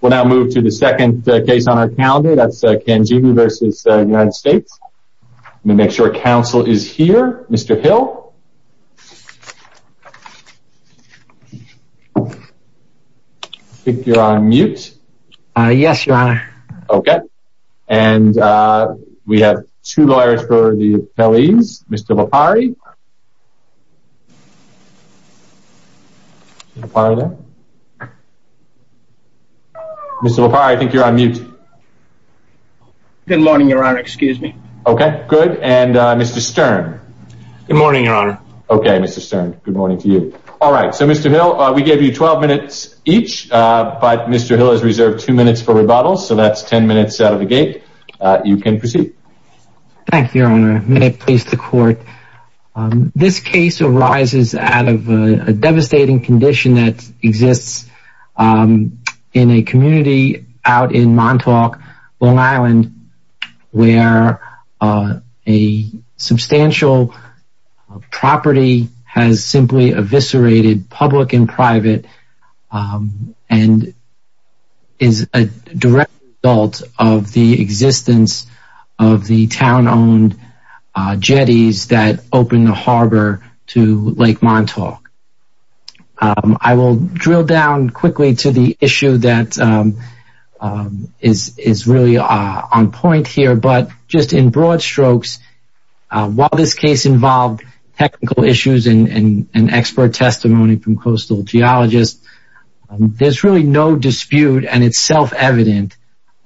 We'll now move to the second case on our calendar, that's Cangemi v. United States. Let me make sure counsel is here. Mr. Hill? I think you're on mute. Yes, Your Honor. Okay. And we have two lawyers for the appellees. Mr. LaPari? Mr. LaPari there? Mr. LaPari, I think you're on mute. Good morning, Your Honor. Excuse me. Okay. Good. And Mr. Stern? Good morning, Your Honor. Okay, Mr. Stern. Good morning to you. All right. So, Mr. Hill, we gave you 12 minutes each, but Mr. Hill has reserved two minutes for rebuttal, so that's 10 minutes out of the gate. You can proceed. Thank you, Your Honor. May it please the Court. This case arises out of a devastating condition that exists in a community out in Montauk, Long Island, where a substantial property has simply eviscerated, public and private, and is a direct result of the existence of the town-owned jetties that opened the harbor to Lake Montauk. I will drill down quickly to the issue that is really on point here, but just in broad strokes, while this case involved technical issues and expert testimony from coastal geologists, there's really no dispute and it's self-evident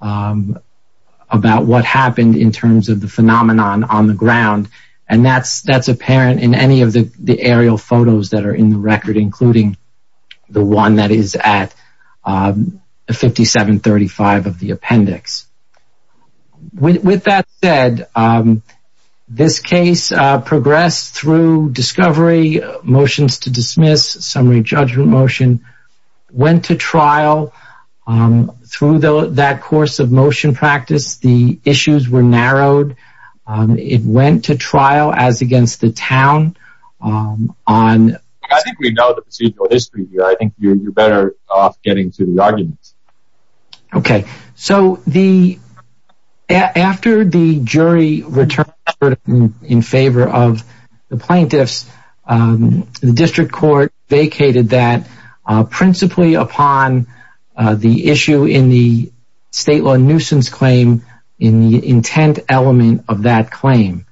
about what happened in terms of the phenomenon on the ground. And that's apparent in any of the aerial photos that are in the record, including the one that is at 5735 of the appendix. With that said, this case progressed through discovery, motions to dismiss, summary judgment motion, went to trial. Through that course of motion practice, the issues were narrowed. It went to trial as against the town. I think we know the procedural history here. I think you're better off getting to the arguments. Okay, so after the jury returned in favor of the plaintiffs, the district court vacated that principally upon the issue in the state law nuisance claim in the intent element of that claim.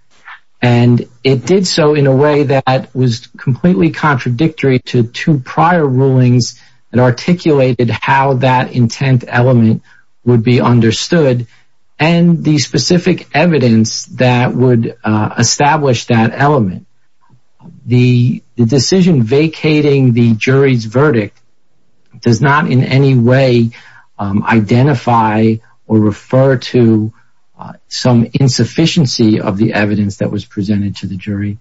And it did so in a way that was completely contradictory to two prior rulings that articulated how that intent element would be understood and the specific evidence that would establish that element. The decision vacating the jury's verdict does not in any way identify or refer to some insufficiency of the evidence that was presented to the jury.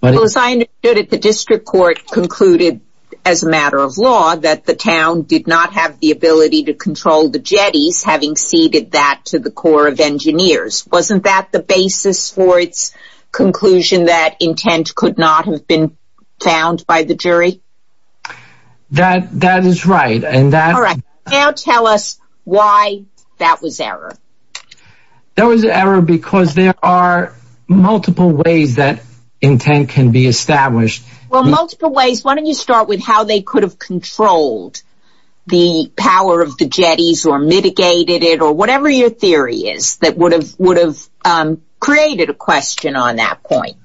Well, as I understood it, the district court concluded as a matter of law that the town did not have the ability to control the jetties, having ceded that to the Corps of Engineers. Wasn't that the basis for its conclusion that intent could not have been found by the jury? That is right. Now tell us why that was error. That was error because there are multiple ways that intent can be established. Well, multiple ways. Why don't you start with how they could have controlled the power of the jetties or mitigated it or whatever your theory is that would have created a question on that point.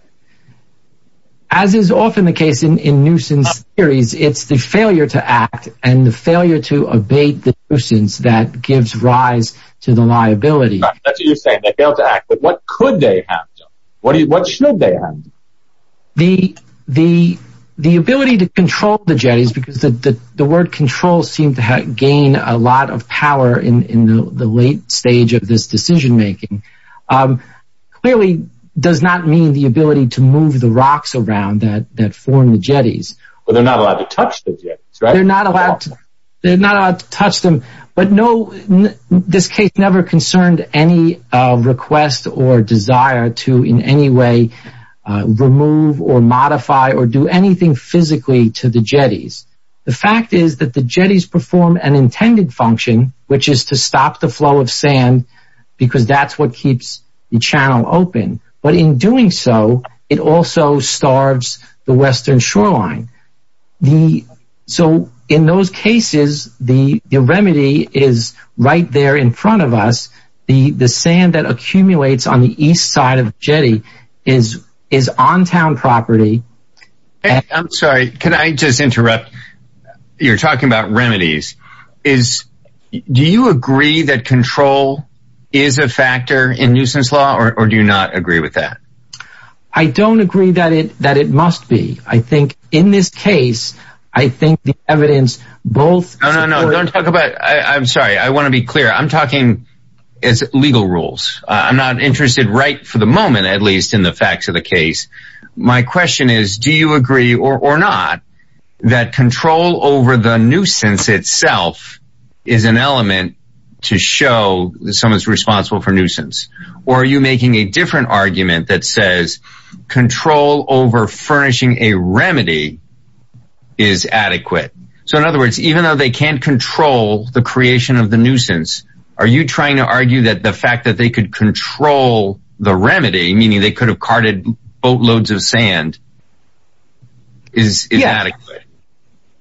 As is often the case in nuisance theories, it's the failure to act and the failure to abate the nuisance that gives rise to the liability. That's what you're saying. They failed to act. But what could they have done? What should they have done? The ability to control the jetties, because the word control seemed to gain a lot of power in the late stage of this decision making, clearly does not mean the ability to move the rocks around that form the jetties. But they're not allowed to touch the jetties, right? They're not allowed to touch them. But this case never concerned any request or desire to in any way remove or modify or do anything physically to the jetties. The fact is that the jetties perform an intended function, which is to stop the flow of sand, because that's what keeps the channel open. But in doing so, it also starves the western shoreline. So in those cases, the remedy is right there in front of us. The sand that accumulates on the east side of the jetty is on town property. I'm sorry, can I just interrupt? You're talking about remedies. Do you agree that control is a factor in nuisance law or do you not agree with that? I don't agree that it must be. I think in this case, I think the evidence both... No, no, no. Don't talk about... I'm sorry. I want to be clear. I'm talking as legal rules. I'm not interested right for the moment, at least in the facts of the case. My question is, do you agree or not that control over the nuisance itself is an element to show someone's responsible for nuisance? Or are you making a different argument that says control over furnishing a remedy is adequate? So in other words, even though they can't control the creation of the nuisance, are you trying to argue that the fact that they could control the remedy, meaning they could have carted boatloads of sand, is adequate?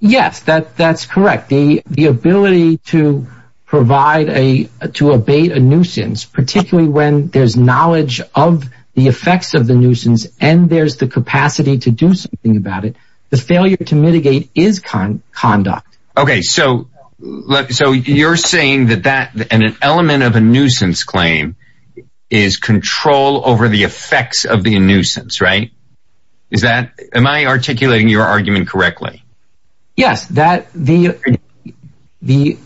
Yes, that's correct. The ability to abate a nuisance, particularly when there's knowledge of the effects of the nuisance and there's the capacity to do something about it, the failure to mitigate is conduct. Okay, so you're saying that an element of a nuisance claim is control over the effects of the nuisance, right? Am I articulating your argument correctly? Yes.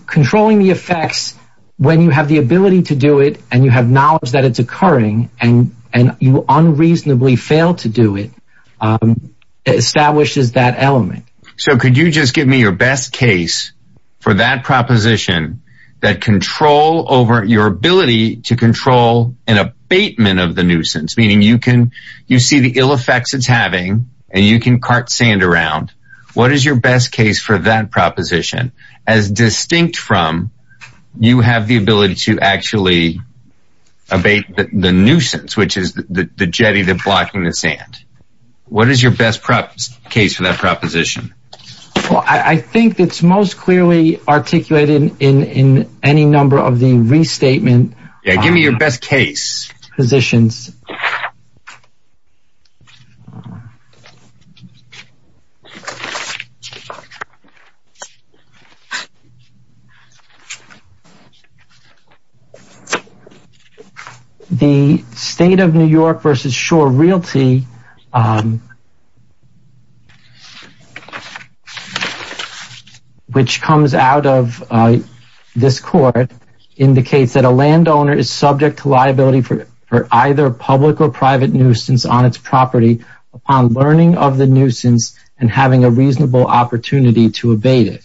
Controlling the effects when you have the ability to do it and you have knowledge that it's occurring and you unreasonably fail to do it establishes that element. So could you just give me your best case for that proposition, your ability to control an abatement of the nuisance, meaning you see the ill effects it's having and you can cart sand around. What is your best case for that proposition? As distinct from you have the ability to actually abate the nuisance, which is the jetty that's blocking the sand. What is your best case for that proposition? Well, I think it's most clearly articulated in any number of the restatement positions. Yeah, give me your best case. The State of New York v. Shore Realty, which comes out of this court, indicates that a landowner is subject to liability for abatement. For either public or private nuisance on its property upon learning of the nuisance and having a reasonable opportunity to abate it.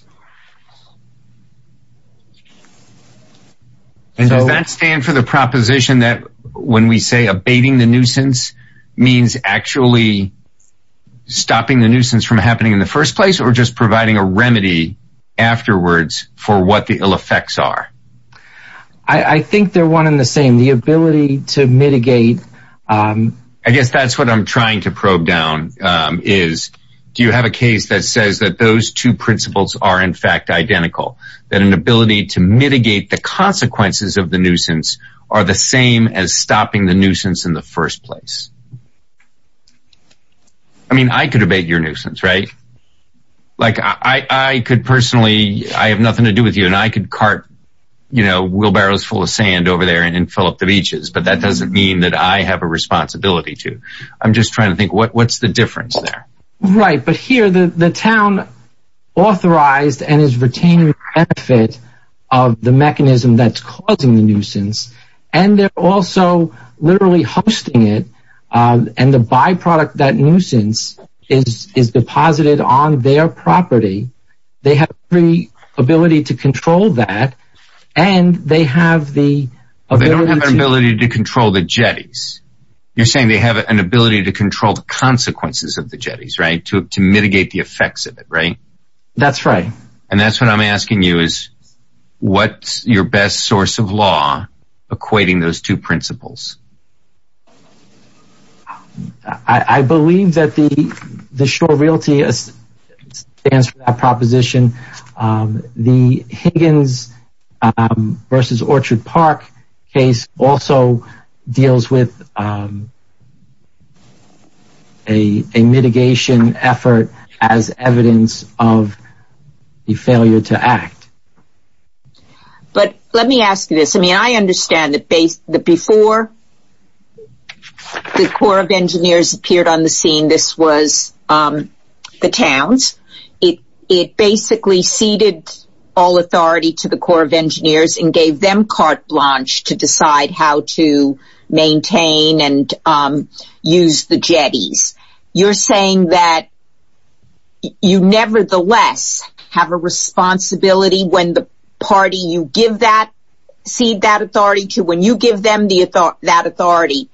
Does that stand for the proposition that when we say abating the nuisance means actually stopping the nuisance from happening in the first place or just providing a remedy afterwards for what the ill effects are? I think they're one and the same. The ability to mitigate... I guess that's what I'm trying to probe down is, do you have a case that says that those two principles are in fact identical? That an ability to mitigate the consequences of the nuisance are the same as stopping the nuisance in the first place? I mean, I could abate your nuisance, right? I have nothing to do with you, and I could cart wheelbarrows full of sand over there and fill up the beaches, but that doesn't mean that I have a responsibility to. I'm just trying to think, what's the difference there? Right, but here the town authorized and is retaining the benefit of the mechanism that's causing the nuisance, and they're also literally hosting it, and the byproduct of that nuisance is deposited on their property. They have the ability to control that, and they have the ability to... To mitigate the effects of it, right? That's right. And that's what I'm asking you is, what's your best source of law equating those two principles? I believe that the short realty stands for that proposition. The Higgins v. Orchard Park case also deals with a mitigation effort as evidence of the failure to act. But let me ask you this. I mean, I understand that before the Corps of Engineers appeared on the scene, this was the town's. It basically ceded all authority to the Corps of Engineers and gave them carte blanche to decide how to maintain and use the jetties. You're saying that you nevertheless have a responsibility when the party you cede that authority to, when you give them that authority,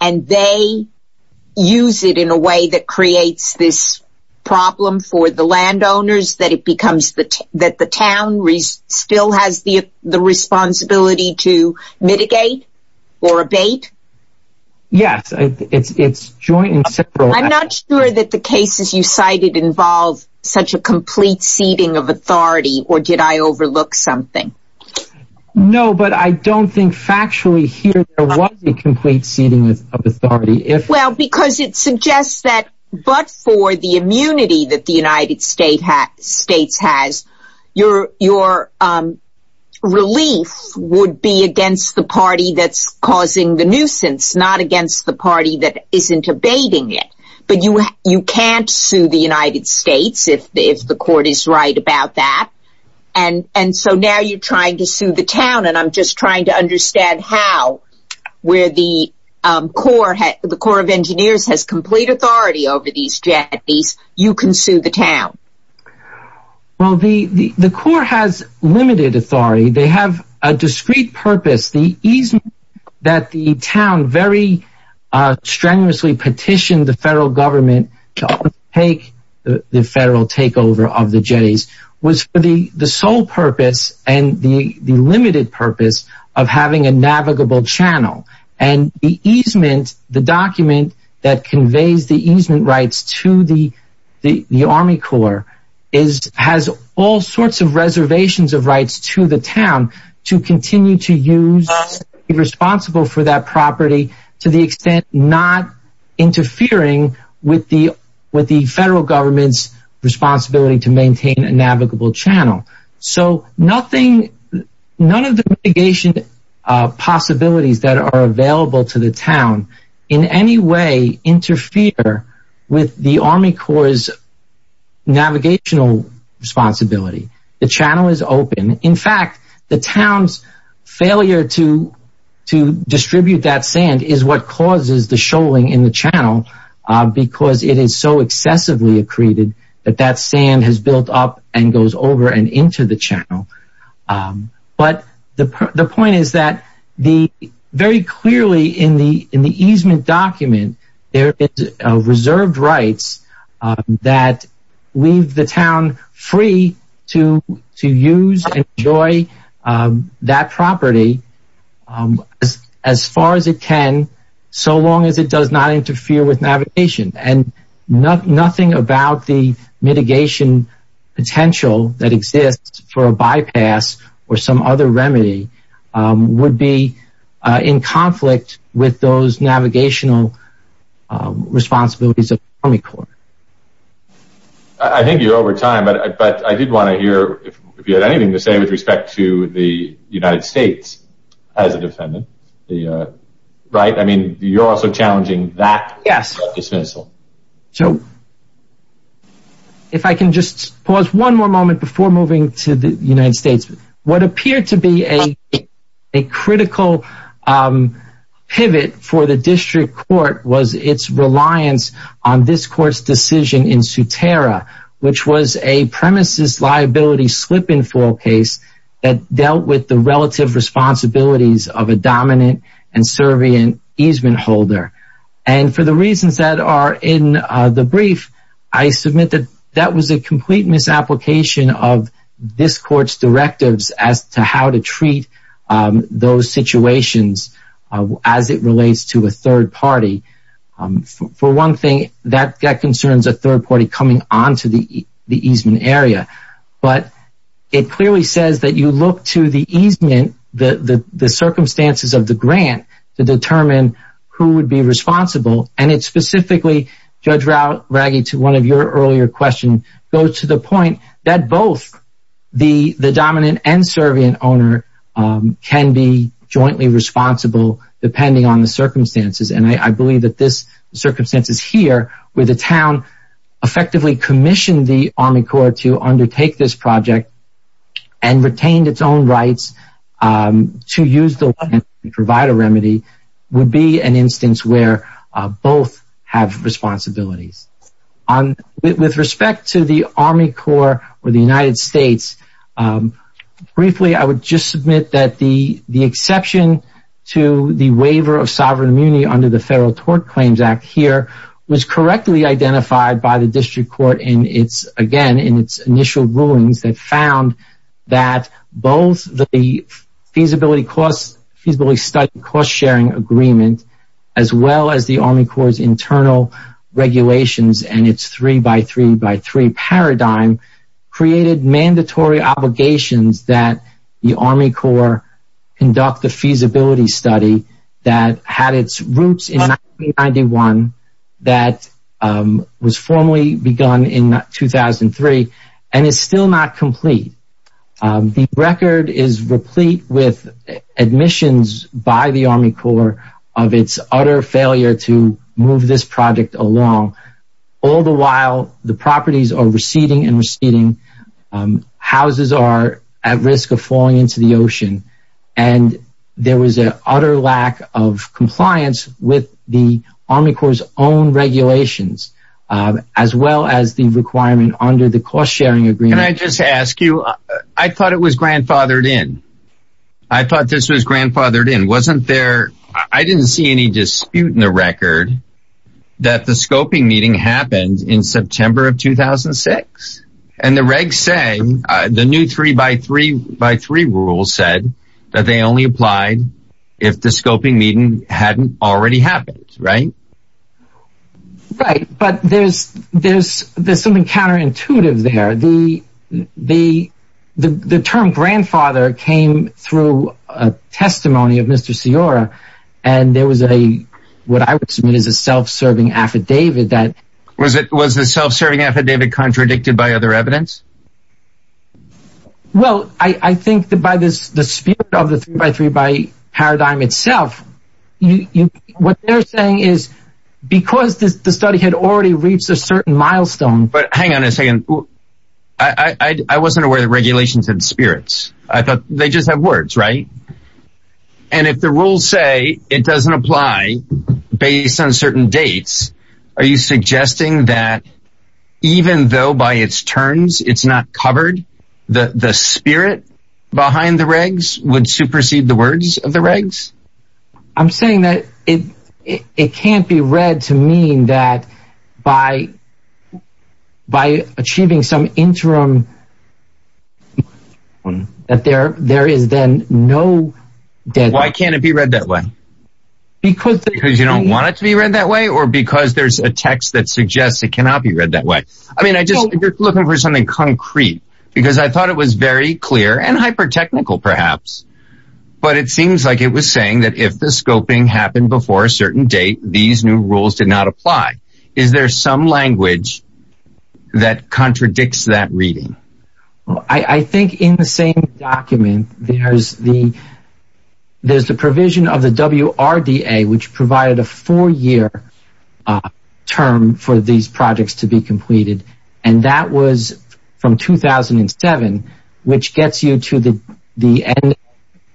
and they use it in a way that creates this problem for the landowners, that the town still has the responsibility to mitigate or abate? Yes, it's joint and separate. I'm not sure that the cases you cited involve such a complete ceding of authority, or did I overlook something? No, but I don't think factually here there was a complete ceding of authority. Well, because it suggests that but for the immunity that the United States has, your relief would be against the party that's causing the nuisance, not against the party that isn't abating it. But you can't sue the United States if the court is right about that. And so now you're trying to sue the town, and I'm just trying to understand how, where the Corps of Engineers has complete authority over these jetties, you can sue the town. Well, the Corps has limited authority. They have a discrete purpose. The easement that the town very strenuously petitioned the federal government to undertake the federal takeover of the jetties was for the sole purpose and the limited purpose of having a navigable channel. And the easement, the document that conveys the easement rights to the Army Corps has all sorts of reservations of rights to the town to continue to use, be responsible for that property to the extent not interfering with the federal government's responsibility to maintain a navigable channel. So nothing, none of the mitigation possibilities that are available to the town in any way interfere with the Army Corps' navigational responsibility. In fact, the town's failure to distribute that sand is what causes the shoaling in the channel because it is so excessively accreted that that sand has built up and goes over and into the channel. But the point is that very clearly in the easement document, there is reserved rights that leave the town free to use and enjoy that property as far as it can so long as it does not interfere with navigation. And nothing about the mitigation potential that exists for a bypass or some other remedy would be in conflict with those navigational responsibilities of the Army Corps. I think you're over time, but I did want to hear if you had anything to say with respect to the United States as a defendant. Right? I mean, you're also challenging that dismissal. If I can just pause one more moment before moving to the United States. What appeared to be a critical pivot for the district court was its reliance on this court's decision in Sutera, which was a premises liability slip-and-fall case that dealt with the relative responsibilities of a dominant and servient easement holder. And for the reasons that are in the brief, I submit that that was a complete misapplication of this court's directives as to how to treat those situations as it relates to a third party. For one thing, that concerns a third party coming onto the easement area, but it clearly says that you look to the easement, the circumstances of the grant, to determine who would be responsible. And it specifically, Judge Raggi, to one of your earlier questions, goes to the point that both the dominant and servient owner can be jointly responsible depending on the circumstances. And I believe that this circumstance is here, where the town effectively commissioned the Army Corps to undertake this project and retained its own rights to use the land and provide a remedy, would be an instance where both have responsibilities. With respect to the Army Corps or the United States, briefly, I would just submit that the exception to the waiver of sovereign immunity under the Federal Tort Claims Act here was correctly identified by the district court in its, again, in its initial rulings that found that both the feasibility study cost-sharing agreement, as well as the Army Corps' internal regulations and its three-by-three-by-three paradigm, created mandatory obligations that the Army Corps conduct the feasibility study that had its roots in 1991, that was formally begun in 2003, and is still not complete. The record is replete with admissions by the Army Corps of its utter failure to move this project along. All the while, the properties are receding and receding. Houses are at risk of falling into the ocean. And there was an utter lack of compliance with the Army Corps' own regulations, as well as the requirement under the cost-sharing agreement. Can I just ask you, I thought it was grandfathered in. I thought this was grandfathered in. I didn't see any dispute in the record that the scoping meeting happened in September of 2006. And the regs say, the new three-by-three-by-three rule said that they only applied if the scoping meeting hadn't already happened, right? Right, but there's something counterintuitive there. The term grandfather came through a testimony of Mr. Sciorra, and there was a, what I would submit as a self-serving affidavit that... Was the self-serving affidavit contradicted by other evidence? Well, I think that by the spirit of the three-by-three-by paradigm itself, what they're saying is, because the study had already reached a certain milestone... But hang on a second, I wasn't aware that regulations had spirits. I thought they just have words, right? And if the rules say it doesn't apply based on certain dates, are you suggesting that even though by its terms it's not covered, the spirit behind the regs would supersede the words of the regs? I'm saying that it can't be read to mean that by achieving some interim... That there is then no... Why can't it be read that way? Because... Because you don't want it to be read that way, or because there's a text that suggests it cannot be read that way? I mean, I just, you're looking for something concrete, because I thought it was very clear, and hyper-technical perhaps. But it seems like it was saying that if the scoping happened before a certain date, these new rules did not apply. Is there some language that contradicts that reading? I think in the same document, there's the provision of the WRDA, which provided a four-year term for these projects to be completed. And that was from 2007, which gets you to the end of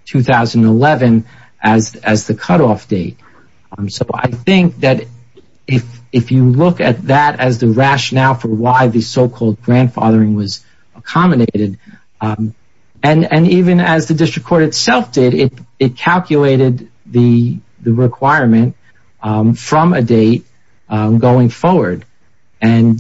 2011 as the cutoff date. So I think that if you look at that as the rationale for why the so-called grandfathering was accommodated, and even as the district court itself did, it calculated the requirement from a date going forward. And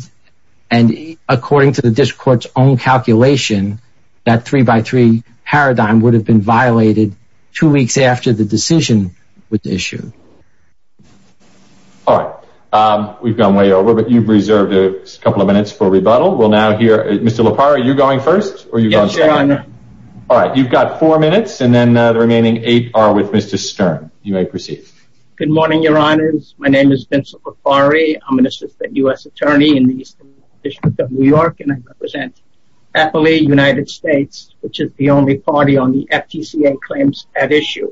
according to the district court's own calculation, that three-by-three paradigm would have been violated two weeks after the decision was issued. All right. We've gone way over, but you've reserved a couple of minutes for rebuttal. We'll now hear... Mr. LaPari, are you going first? Yes, Your Honor. All right. You've got four minutes, and then the remaining eight are with Mr. Stern. You may proceed. Good morning, Your Honors. My name is Vincent LaPari. I'm an assistant U.S. attorney in the Eastern District of New York, and I represent AFLI, United States, which is the only party on the FTCA claims at issue.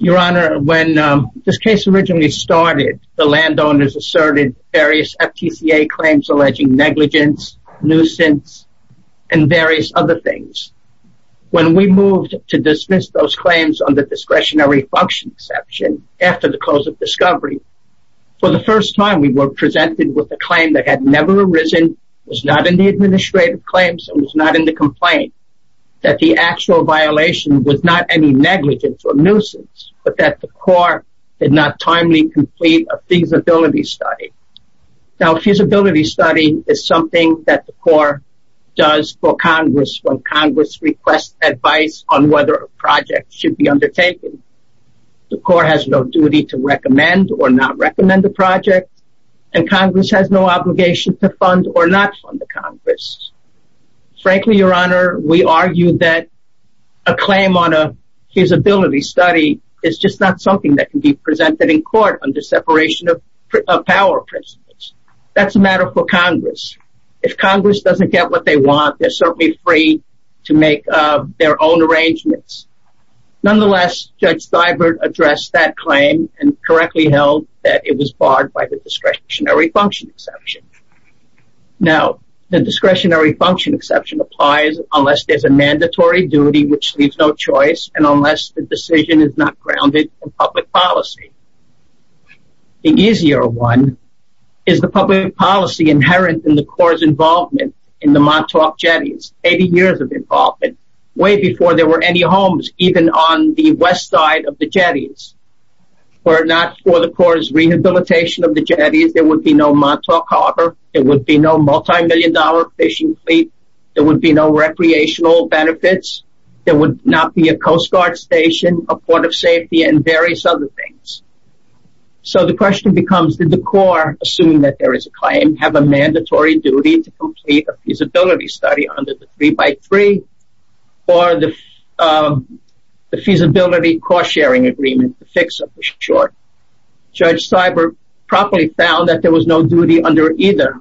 Your Honor, when this case originally started, the landowners asserted various FTCA claims alleging negligence, nuisance, and various other things. When we moved to dismiss those claims under discretionary function exception after the close of discovery, for the first time we were presented with a claim that had never arisen, was not in the administrative claims, and was not in the complaint, that the actual violation was not any negligence or nuisance, but that the court did not timely complete a feasibility study. Now, a feasibility study is something that the court does for Congress when Congress requests advice on whether a project should be undertaken. The court has no duty to recommend or not recommend the project, and Congress has no obligation to fund or not fund the Congress. Frankly, Your Honor, we argue that a claim on a feasibility study is just not something that can be presented in court under separation of power principles. That's a matter for Congress. If Congress doesn't get what they want, they're certainly free to make their own arrangements. Nonetheless, Judge Steibert addressed that claim and correctly held that it was barred by the discretionary function exception. Now, the discretionary function exception applies unless there's a mandatory duty, which leaves no choice, and unless the decision is not grounded in public policy. The easier one is the public policy inherent in the court's involvement in the Montauk jetties, 80 years of involvement, way before there were any homes even on the west side of the jetties. Were it not for the court's rehabilitation of the jetties, there would be no Montauk Harbor, there would be no multi-million dollar fishing fleet, there would be no recreational benefits, there would not be a Coast Guard station, a port of safety, and various other things. So the question becomes, did the court, assuming that there is a claim, have a mandatory duty to complete a feasibility study under the three by three, or the feasibility cost sharing agreement, the FICSA for short. Judge Steibert properly found that there was no duty under either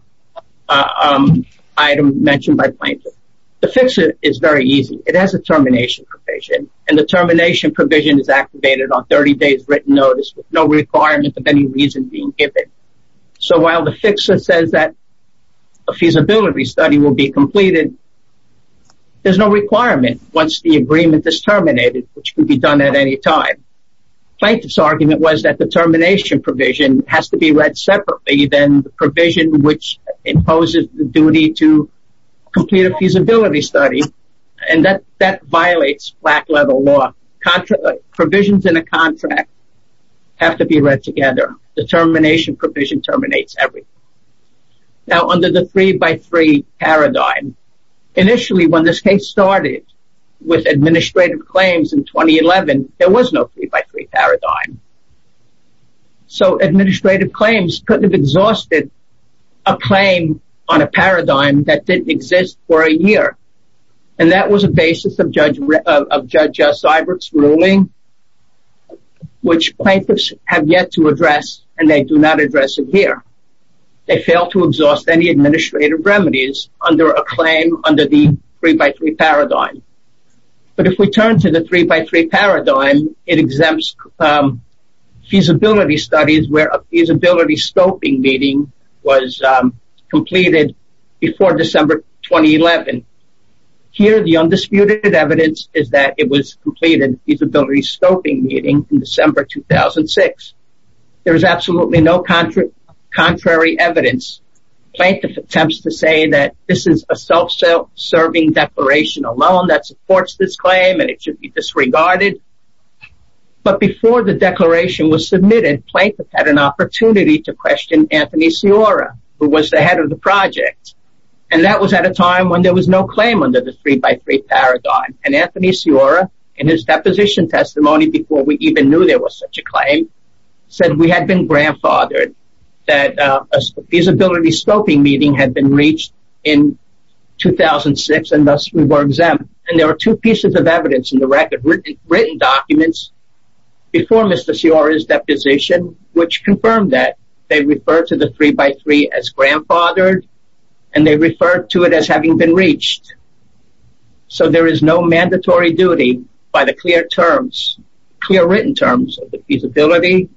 item mentioned by plaintiff. The FICSA is very easy. It has a termination provision, and the termination provision is activated on 30 days written notice with no requirement of any reason being given. So while the FICSA says that a feasibility study will be completed, there's no requirement once the agreement is terminated, which can be done at any time. Plaintiff's argument was that the termination provision has to be read separately than the provision which imposes the duty to complete a feasibility study, and that violates black leather law. Provisions in a contract have to be read together. The termination provision terminates everything. Now under the three by three paradigm, initially when this case started with administrative claims in 2011, there was no three by three paradigm. So administrative claims couldn't have exhausted a claim on a paradigm that didn't exist for a year, and that was a basis of Judge Steibert's ruling, which plaintiffs have yet to address, and they do not address it here. They fail to exhaust any administrative remedies under a claim under the three by three paradigm. But if we turn to the three by three paradigm, it exempts feasibility studies where a feasibility scoping meeting was completed before December 2011. Here the undisputed evidence is that it was completed, the feasibility scoping meeting, in December 2006. There is absolutely no contrary evidence. Plaintiff attempts to say that this is a self-serving declaration alone that supports this claim and it should be disregarded. But before the declaration was submitted, plaintiffs had an opportunity to question Anthony Sciorra, who was the head of the project. And that was at a time when there was no claim under the three by three paradigm. And Anthony Sciorra, in his deposition testimony before we even knew there was such a claim, said we had been grandfathered, that a feasibility scoping meeting had been reached in 2006 and thus we were exempt. And there were two pieces of evidence in the record, written documents before Mr. Sciorra's deposition, which confirmed that. They referred to the three by three as grandfathered, and they referred to it as having been reached. So there is no mandatory duty by the clear written terms of the feasibility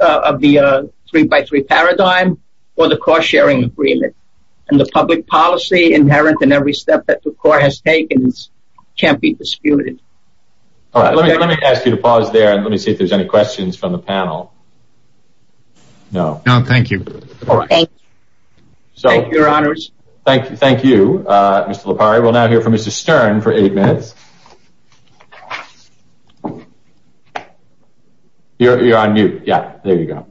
of the three by three paradigm or the cost sharing agreement. And the public policy inherent in every step that the court has taken can't be disputed. All right, let me ask you to pause there and let me see if there's any questions from the panel. No, thank you. Thank you, your honors. Thank you, Mr. LaPari. We'll now hear from Mr. Stern for eight minutes. You're on mute. Yeah, there you go.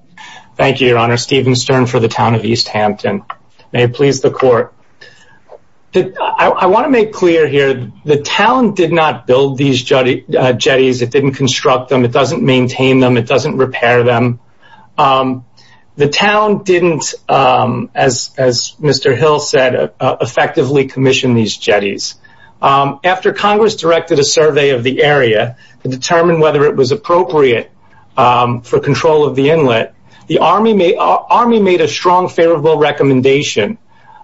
Thank you, your honor, Stephen Stern for the town of East Hampton. May it please the court. I want to make clear here, the town did not build these jetties, it didn't construct them, it doesn't maintain them, it doesn't repair them. The town didn't, as Mr. Hill said, effectively commission these jetties. After Congress directed a survey of the area to determine whether it was appropriate for control of the inlet, the Army made a strong favorable recommendation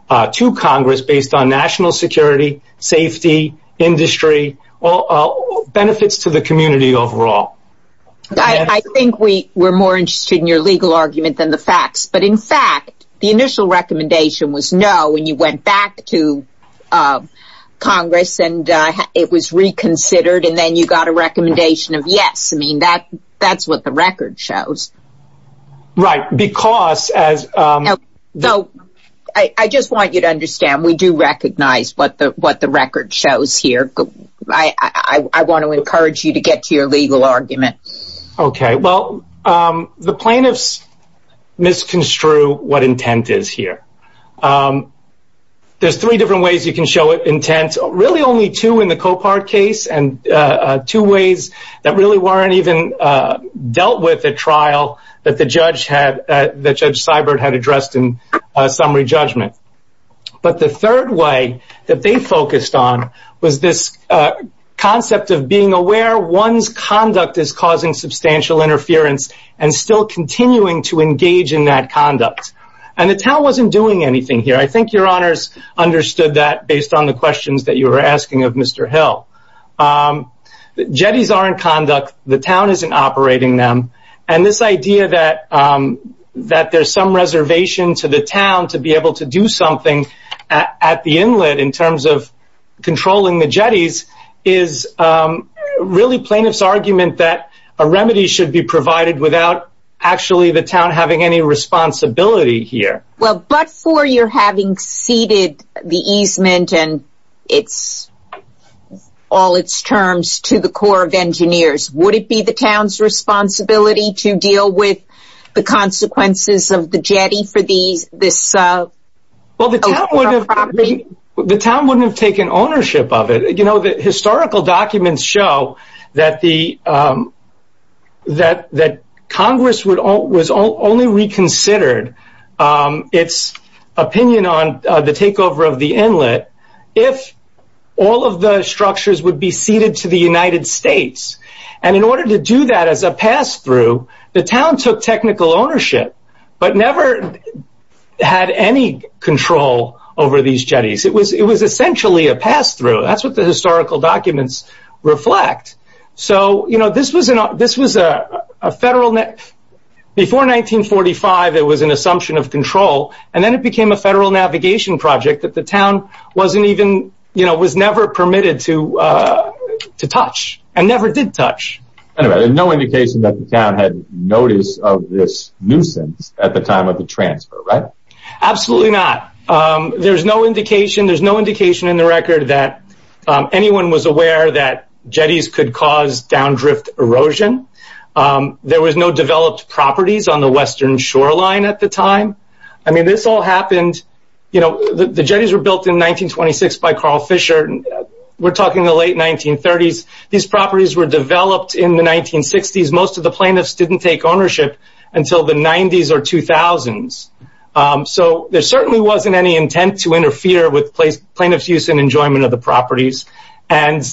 to Congress based on national security, safety, industry, benefits to the community overall. I think we were more interested in your legal argument than the facts. But in fact, the initial recommendation was no. And you went back to Congress and it was reconsidered. And then you got a recommendation of yes. I mean, that that's what the record shows. Right, because as I just want you to understand, we do recognize what the what the record shows here. I want to encourage you to get to your legal argument. Okay, well, the plaintiffs misconstrue what intent is here. There's three different ways you can show it intent, really only two in the copart case and two ways that really weren't even dealt with a trial that the judge had that Judge Seibert had addressed in summary judgment. But the third way that they focused on was this concept of being aware one's conduct is causing substantial interference and still continuing to engage in that conduct. And the town wasn't doing anything here. I think your honors understood that based on the questions that you were asking of Mr. Hill. Jetties are in conduct, the town isn't operating them. And this idea that that there's some reservation to the town to be able to do something at the inlet in terms of controlling the jetties is really plaintiff's argument that a remedy should be provided without actually the town having any responsibility here. Well, but for your having ceded the easement and it's all its terms to the Corps of Engineers, would it be the town's responsibility to deal with the consequences of the jetty for these this? Well, the town wouldn't have taken ownership of it. You know, the historical documents show that the that that Congress would all was all only reconsidered its opinion on the takeover of the inlet, if all of the structures would be ceded to the United States. And in order to do that, as a pass through, the town took technical ownership, but never had any control over these jetties. It was it was essentially a pass through. That's what the historical documents reflect. So you know, this was an this was a federal net. Before 1945, it was an assumption of control. And then it became a federal navigation project that the town wasn't even, you know, was never permitted to, to touch and never did touch. No indication that the town had notice of this nuisance at the time of the transfer, right? Absolutely not. There's no indication. There's no indication in the record that anyone was aware that jetties could cause down drift erosion. There was no developed properties on the western shoreline at the time. I mean, this all happened. You know, the jetties were built in 1926 by Carl Fisher. And we're talking the late 1930s. These properties were developed in the 1960s. Most of the plaintiffs didn't take ownership until the 90s or 2000s. So there certainly wasn't any intent to interfere with place plaintiffs use and enjoyment of the properties. And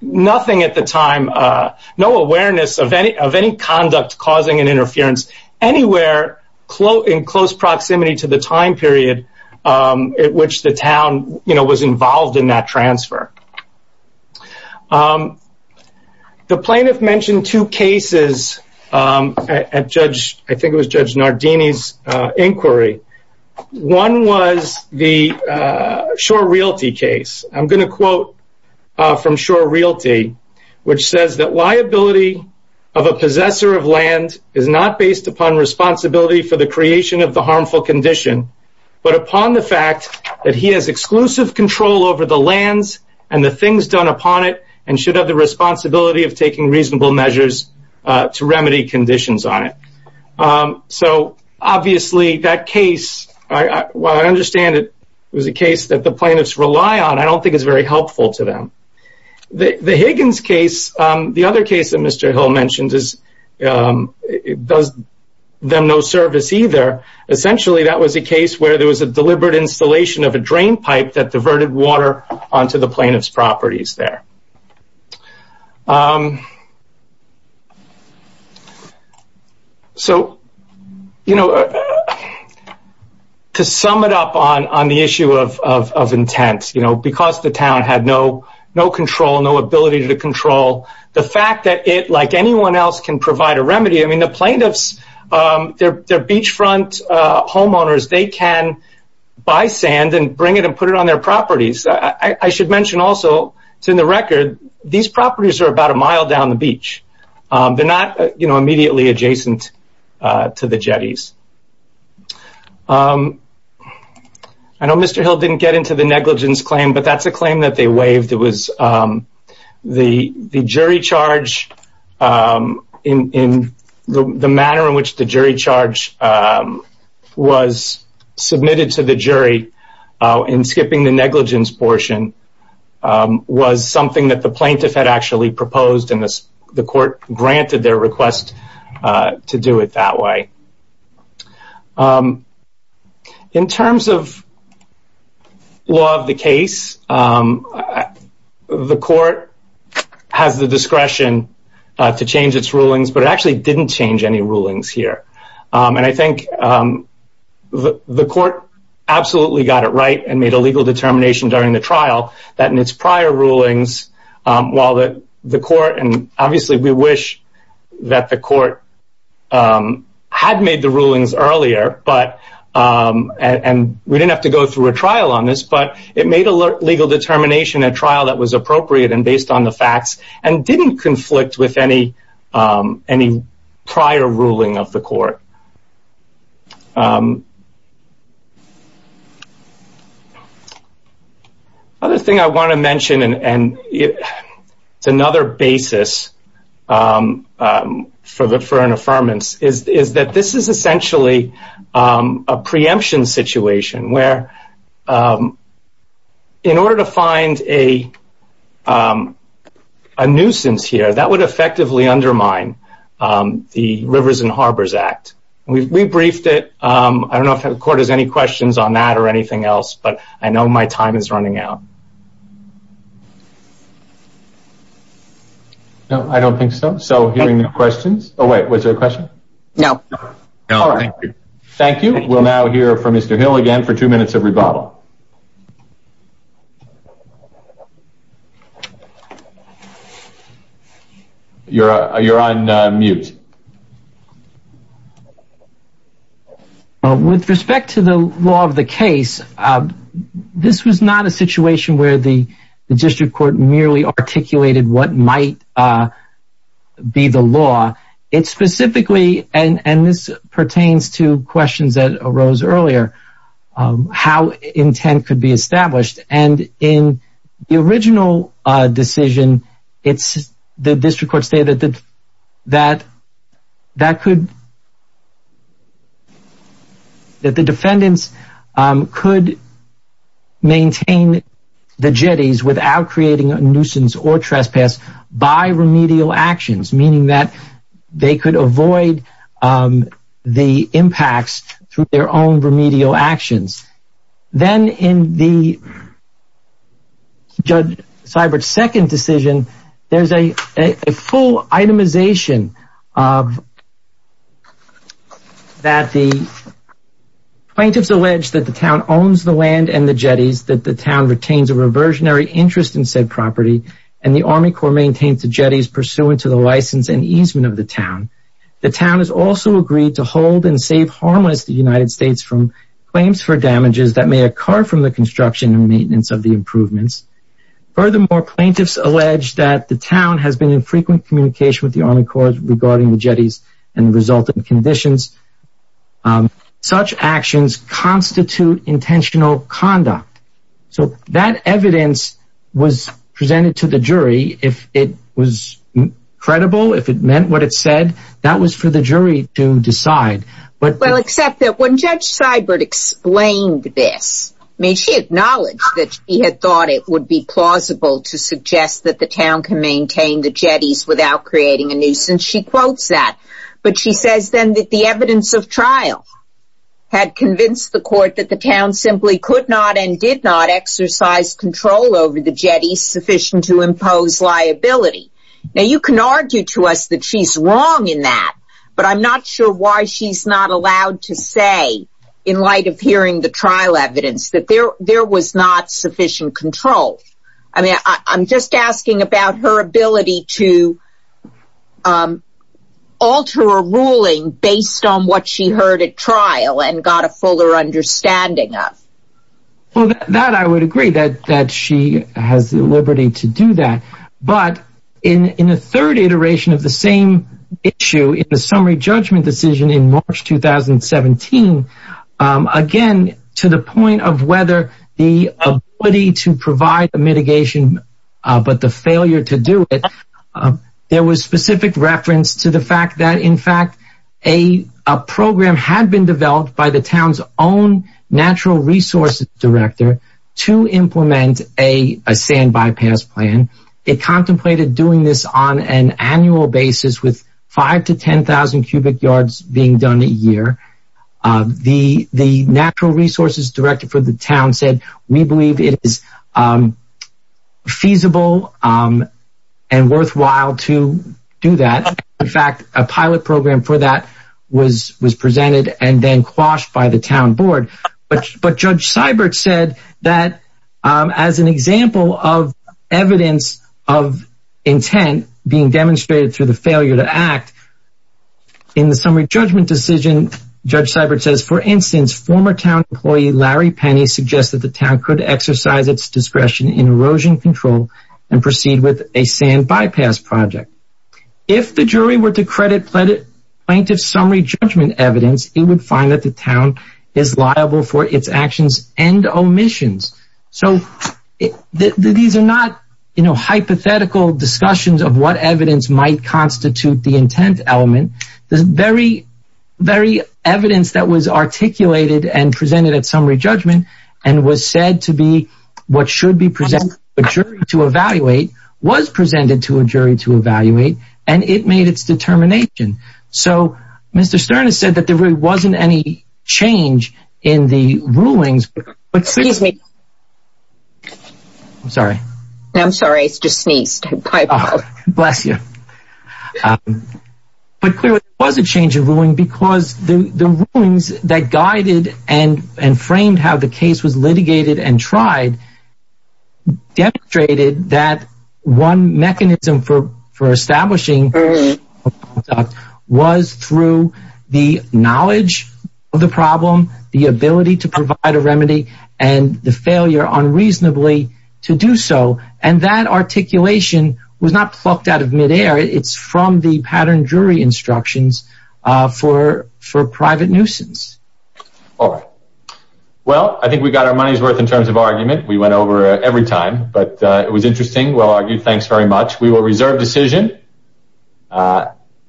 nothing at the time, no awareness of any of any conduct causing an interference anywhere close in close proximity to the time period at which the town, you know, was involved in that transfer. The plaintiff mentioned two cases at Judge, I think it was Judge Nardini's inquiry. One was the Shore Realty case. I'm going to quote from Shore Realty, which says that liability of a possessor of land is not based upon responsibility for the creation of the harmful condition, but upon the fact that he has exclusive control over the lands and the things done upon it and should have the responsibility of taking reasonable measures to remedy conditions on it. So obviously that case, I understand it was a case that the plaintiffs rely on. I don't think it's very helpful to them. The Higgins case, the other case that Mr. Hill mentioned, does them no service either. Essentially that was a case where there was a deliberate installation of a drain pipe that diverted water onto the plaintiff's properties there. So, you know, to sum it up on the issue of intent, you know, because the town had no control, no ability to control the fact that it, like anyone else, can provide a remedy. I mean, the plaintiffs, they're beachfront homeowners, they can buy sand and bring it and put it on their properties. I should mention also, in the record, these properties are about a mile down the beach. They're not, you know, immediately adjacent to the Jetties. I know Mr. Hill didn't get into the negligence claim, but that's a claim that they waived. It was the jury charge in the manner in which the jury charge was submitted to the jury in skipping the negligence portion was something that the plaintiff had actually proposed and the court granted their request to do it that way. In terms of law of the case, the court has the discretion to change its rulings, but it actually didn't change any rulings here. And I think the court absolutely got it right and made a legal determination during the trial that in its prior rulings, while the court, and obviously we wish that the court had made the rulings earlier, and we didn't have to go through a trial on this, but it made a legal determination, a trial that was appropriate and based on the facts and didn't conflict with any prior ruling of the court. Another thing I want to mention, and it's another basis for an affirmance, is that this is essentially a preemption situation where in order to find a nuisance here, that would effectively undermine the Rivers and Harbors Act. We briefed it. I don't know if the court has any questions on that or anything else, but I know my time is running out. No, I don't think so. So hearing no questions. Oh, wait, was there a question? No. No, thank you. Thank you. We'll now hear from Mr. Hill again for two minutes of rebuttal. You're on mute. And in the original decision, the district court stated that the defendants could maintain the jetties without creating a nuisance or trespass by remedial actions, meaning that they could avoid the impacts through their own remedial actions. Then in the Judge Seibert's second decision, there's a full itemization that the plaintiffs allege that the town owns the land and the jetties, that the town retains a reversionary interest in said property, and the Army Corps maintains the jetties pursuant to the license and easement of the town. The town has also agreed to hold and save harmless the United States from claims for damages that may occur from the construction and maintenance of the improvements. Furthermore, plaintiffs allege that the town has been in frequent communication with the Army Corps regarding the jetties and the resulting conditions. Such actions constitute intentional conduct. So that evidence was presented to the jury. If it was credible, if it meant what it said, that was for the jury to decide. Well, except that when Judge Seibert explained this, she acknowledged that she had thought it would be plausible to suggest that the town can maintain the jetties without creating a nuisance. But she says then that the evidence of trial had convinced the court that the town simply could not and did not exercise control over the jetties sufficient to impose liability. Now, you can argue to us that she's wrong in that, but I'm not sure why she's not allowed to say, in light of hearing the trial evidence, that there was not sufficient control. I'm just asking about her ability to alter a ruling based on what she heard at trial and got a fuller understanding of. Well, that I would agree, that she has the liberty to do that. But in the third iteration of the same issue, in the summary judgment decision in March 2017, again, to the point of whether the ability to provide a mitigation, but the failure to do it, there was specific reference to the fact that, in fact, a program had been developed by the town's own natural resources director to implement a sand bypass plan. It contemplated doing this on an annual basis with 5,000 to 10,000 cubic yards being done a year. The natural resources director for the town said, we believe it is feasible and worthwhile to do that. In fact, a pilot program for that was presented and then quashed by the town board. But Judge Seibert said that, as an example of evidence of intent being demonstrated through the failure to act, in the summary judgment decision, Judge Seibert says, for instance, former town employee Larry Penny suggested the town could exercise its discretion in erosion control and proceed with a sand bypass project. If the jury were to credit plaintiff's summary judgment evidence, it would find that the town is liable for its actions and omissions. So these are not hypothetical discussions of what evidence might constitute the intent element. The very evidence that was articulated and presented at summary judgment and was said to be what should be presented to a jury to evaluate was presented to a jury to evaluate, and it made its determination. So Mr. Stern has said that there really wasn't any change in the rulings. Excuse me. I'm sorry. I'm sorry, I just sneezed. Bless you. But clearly there was a change in ruling because the rulings that guided and framed how the case was litigated and tried demonstrated that one mechanism for establishing was through the knowledge of the problem, the ability to provide a remedy, and the failure unreasonably to do so, and that articulation was not plucked out of midair. It's from the pattern jury instructions for private nuisance. All right. Well, I think we got our money's worth in terms of argument. We went over it every time, but it was interesting, well-argued. Thanks very much. We will reserve decision.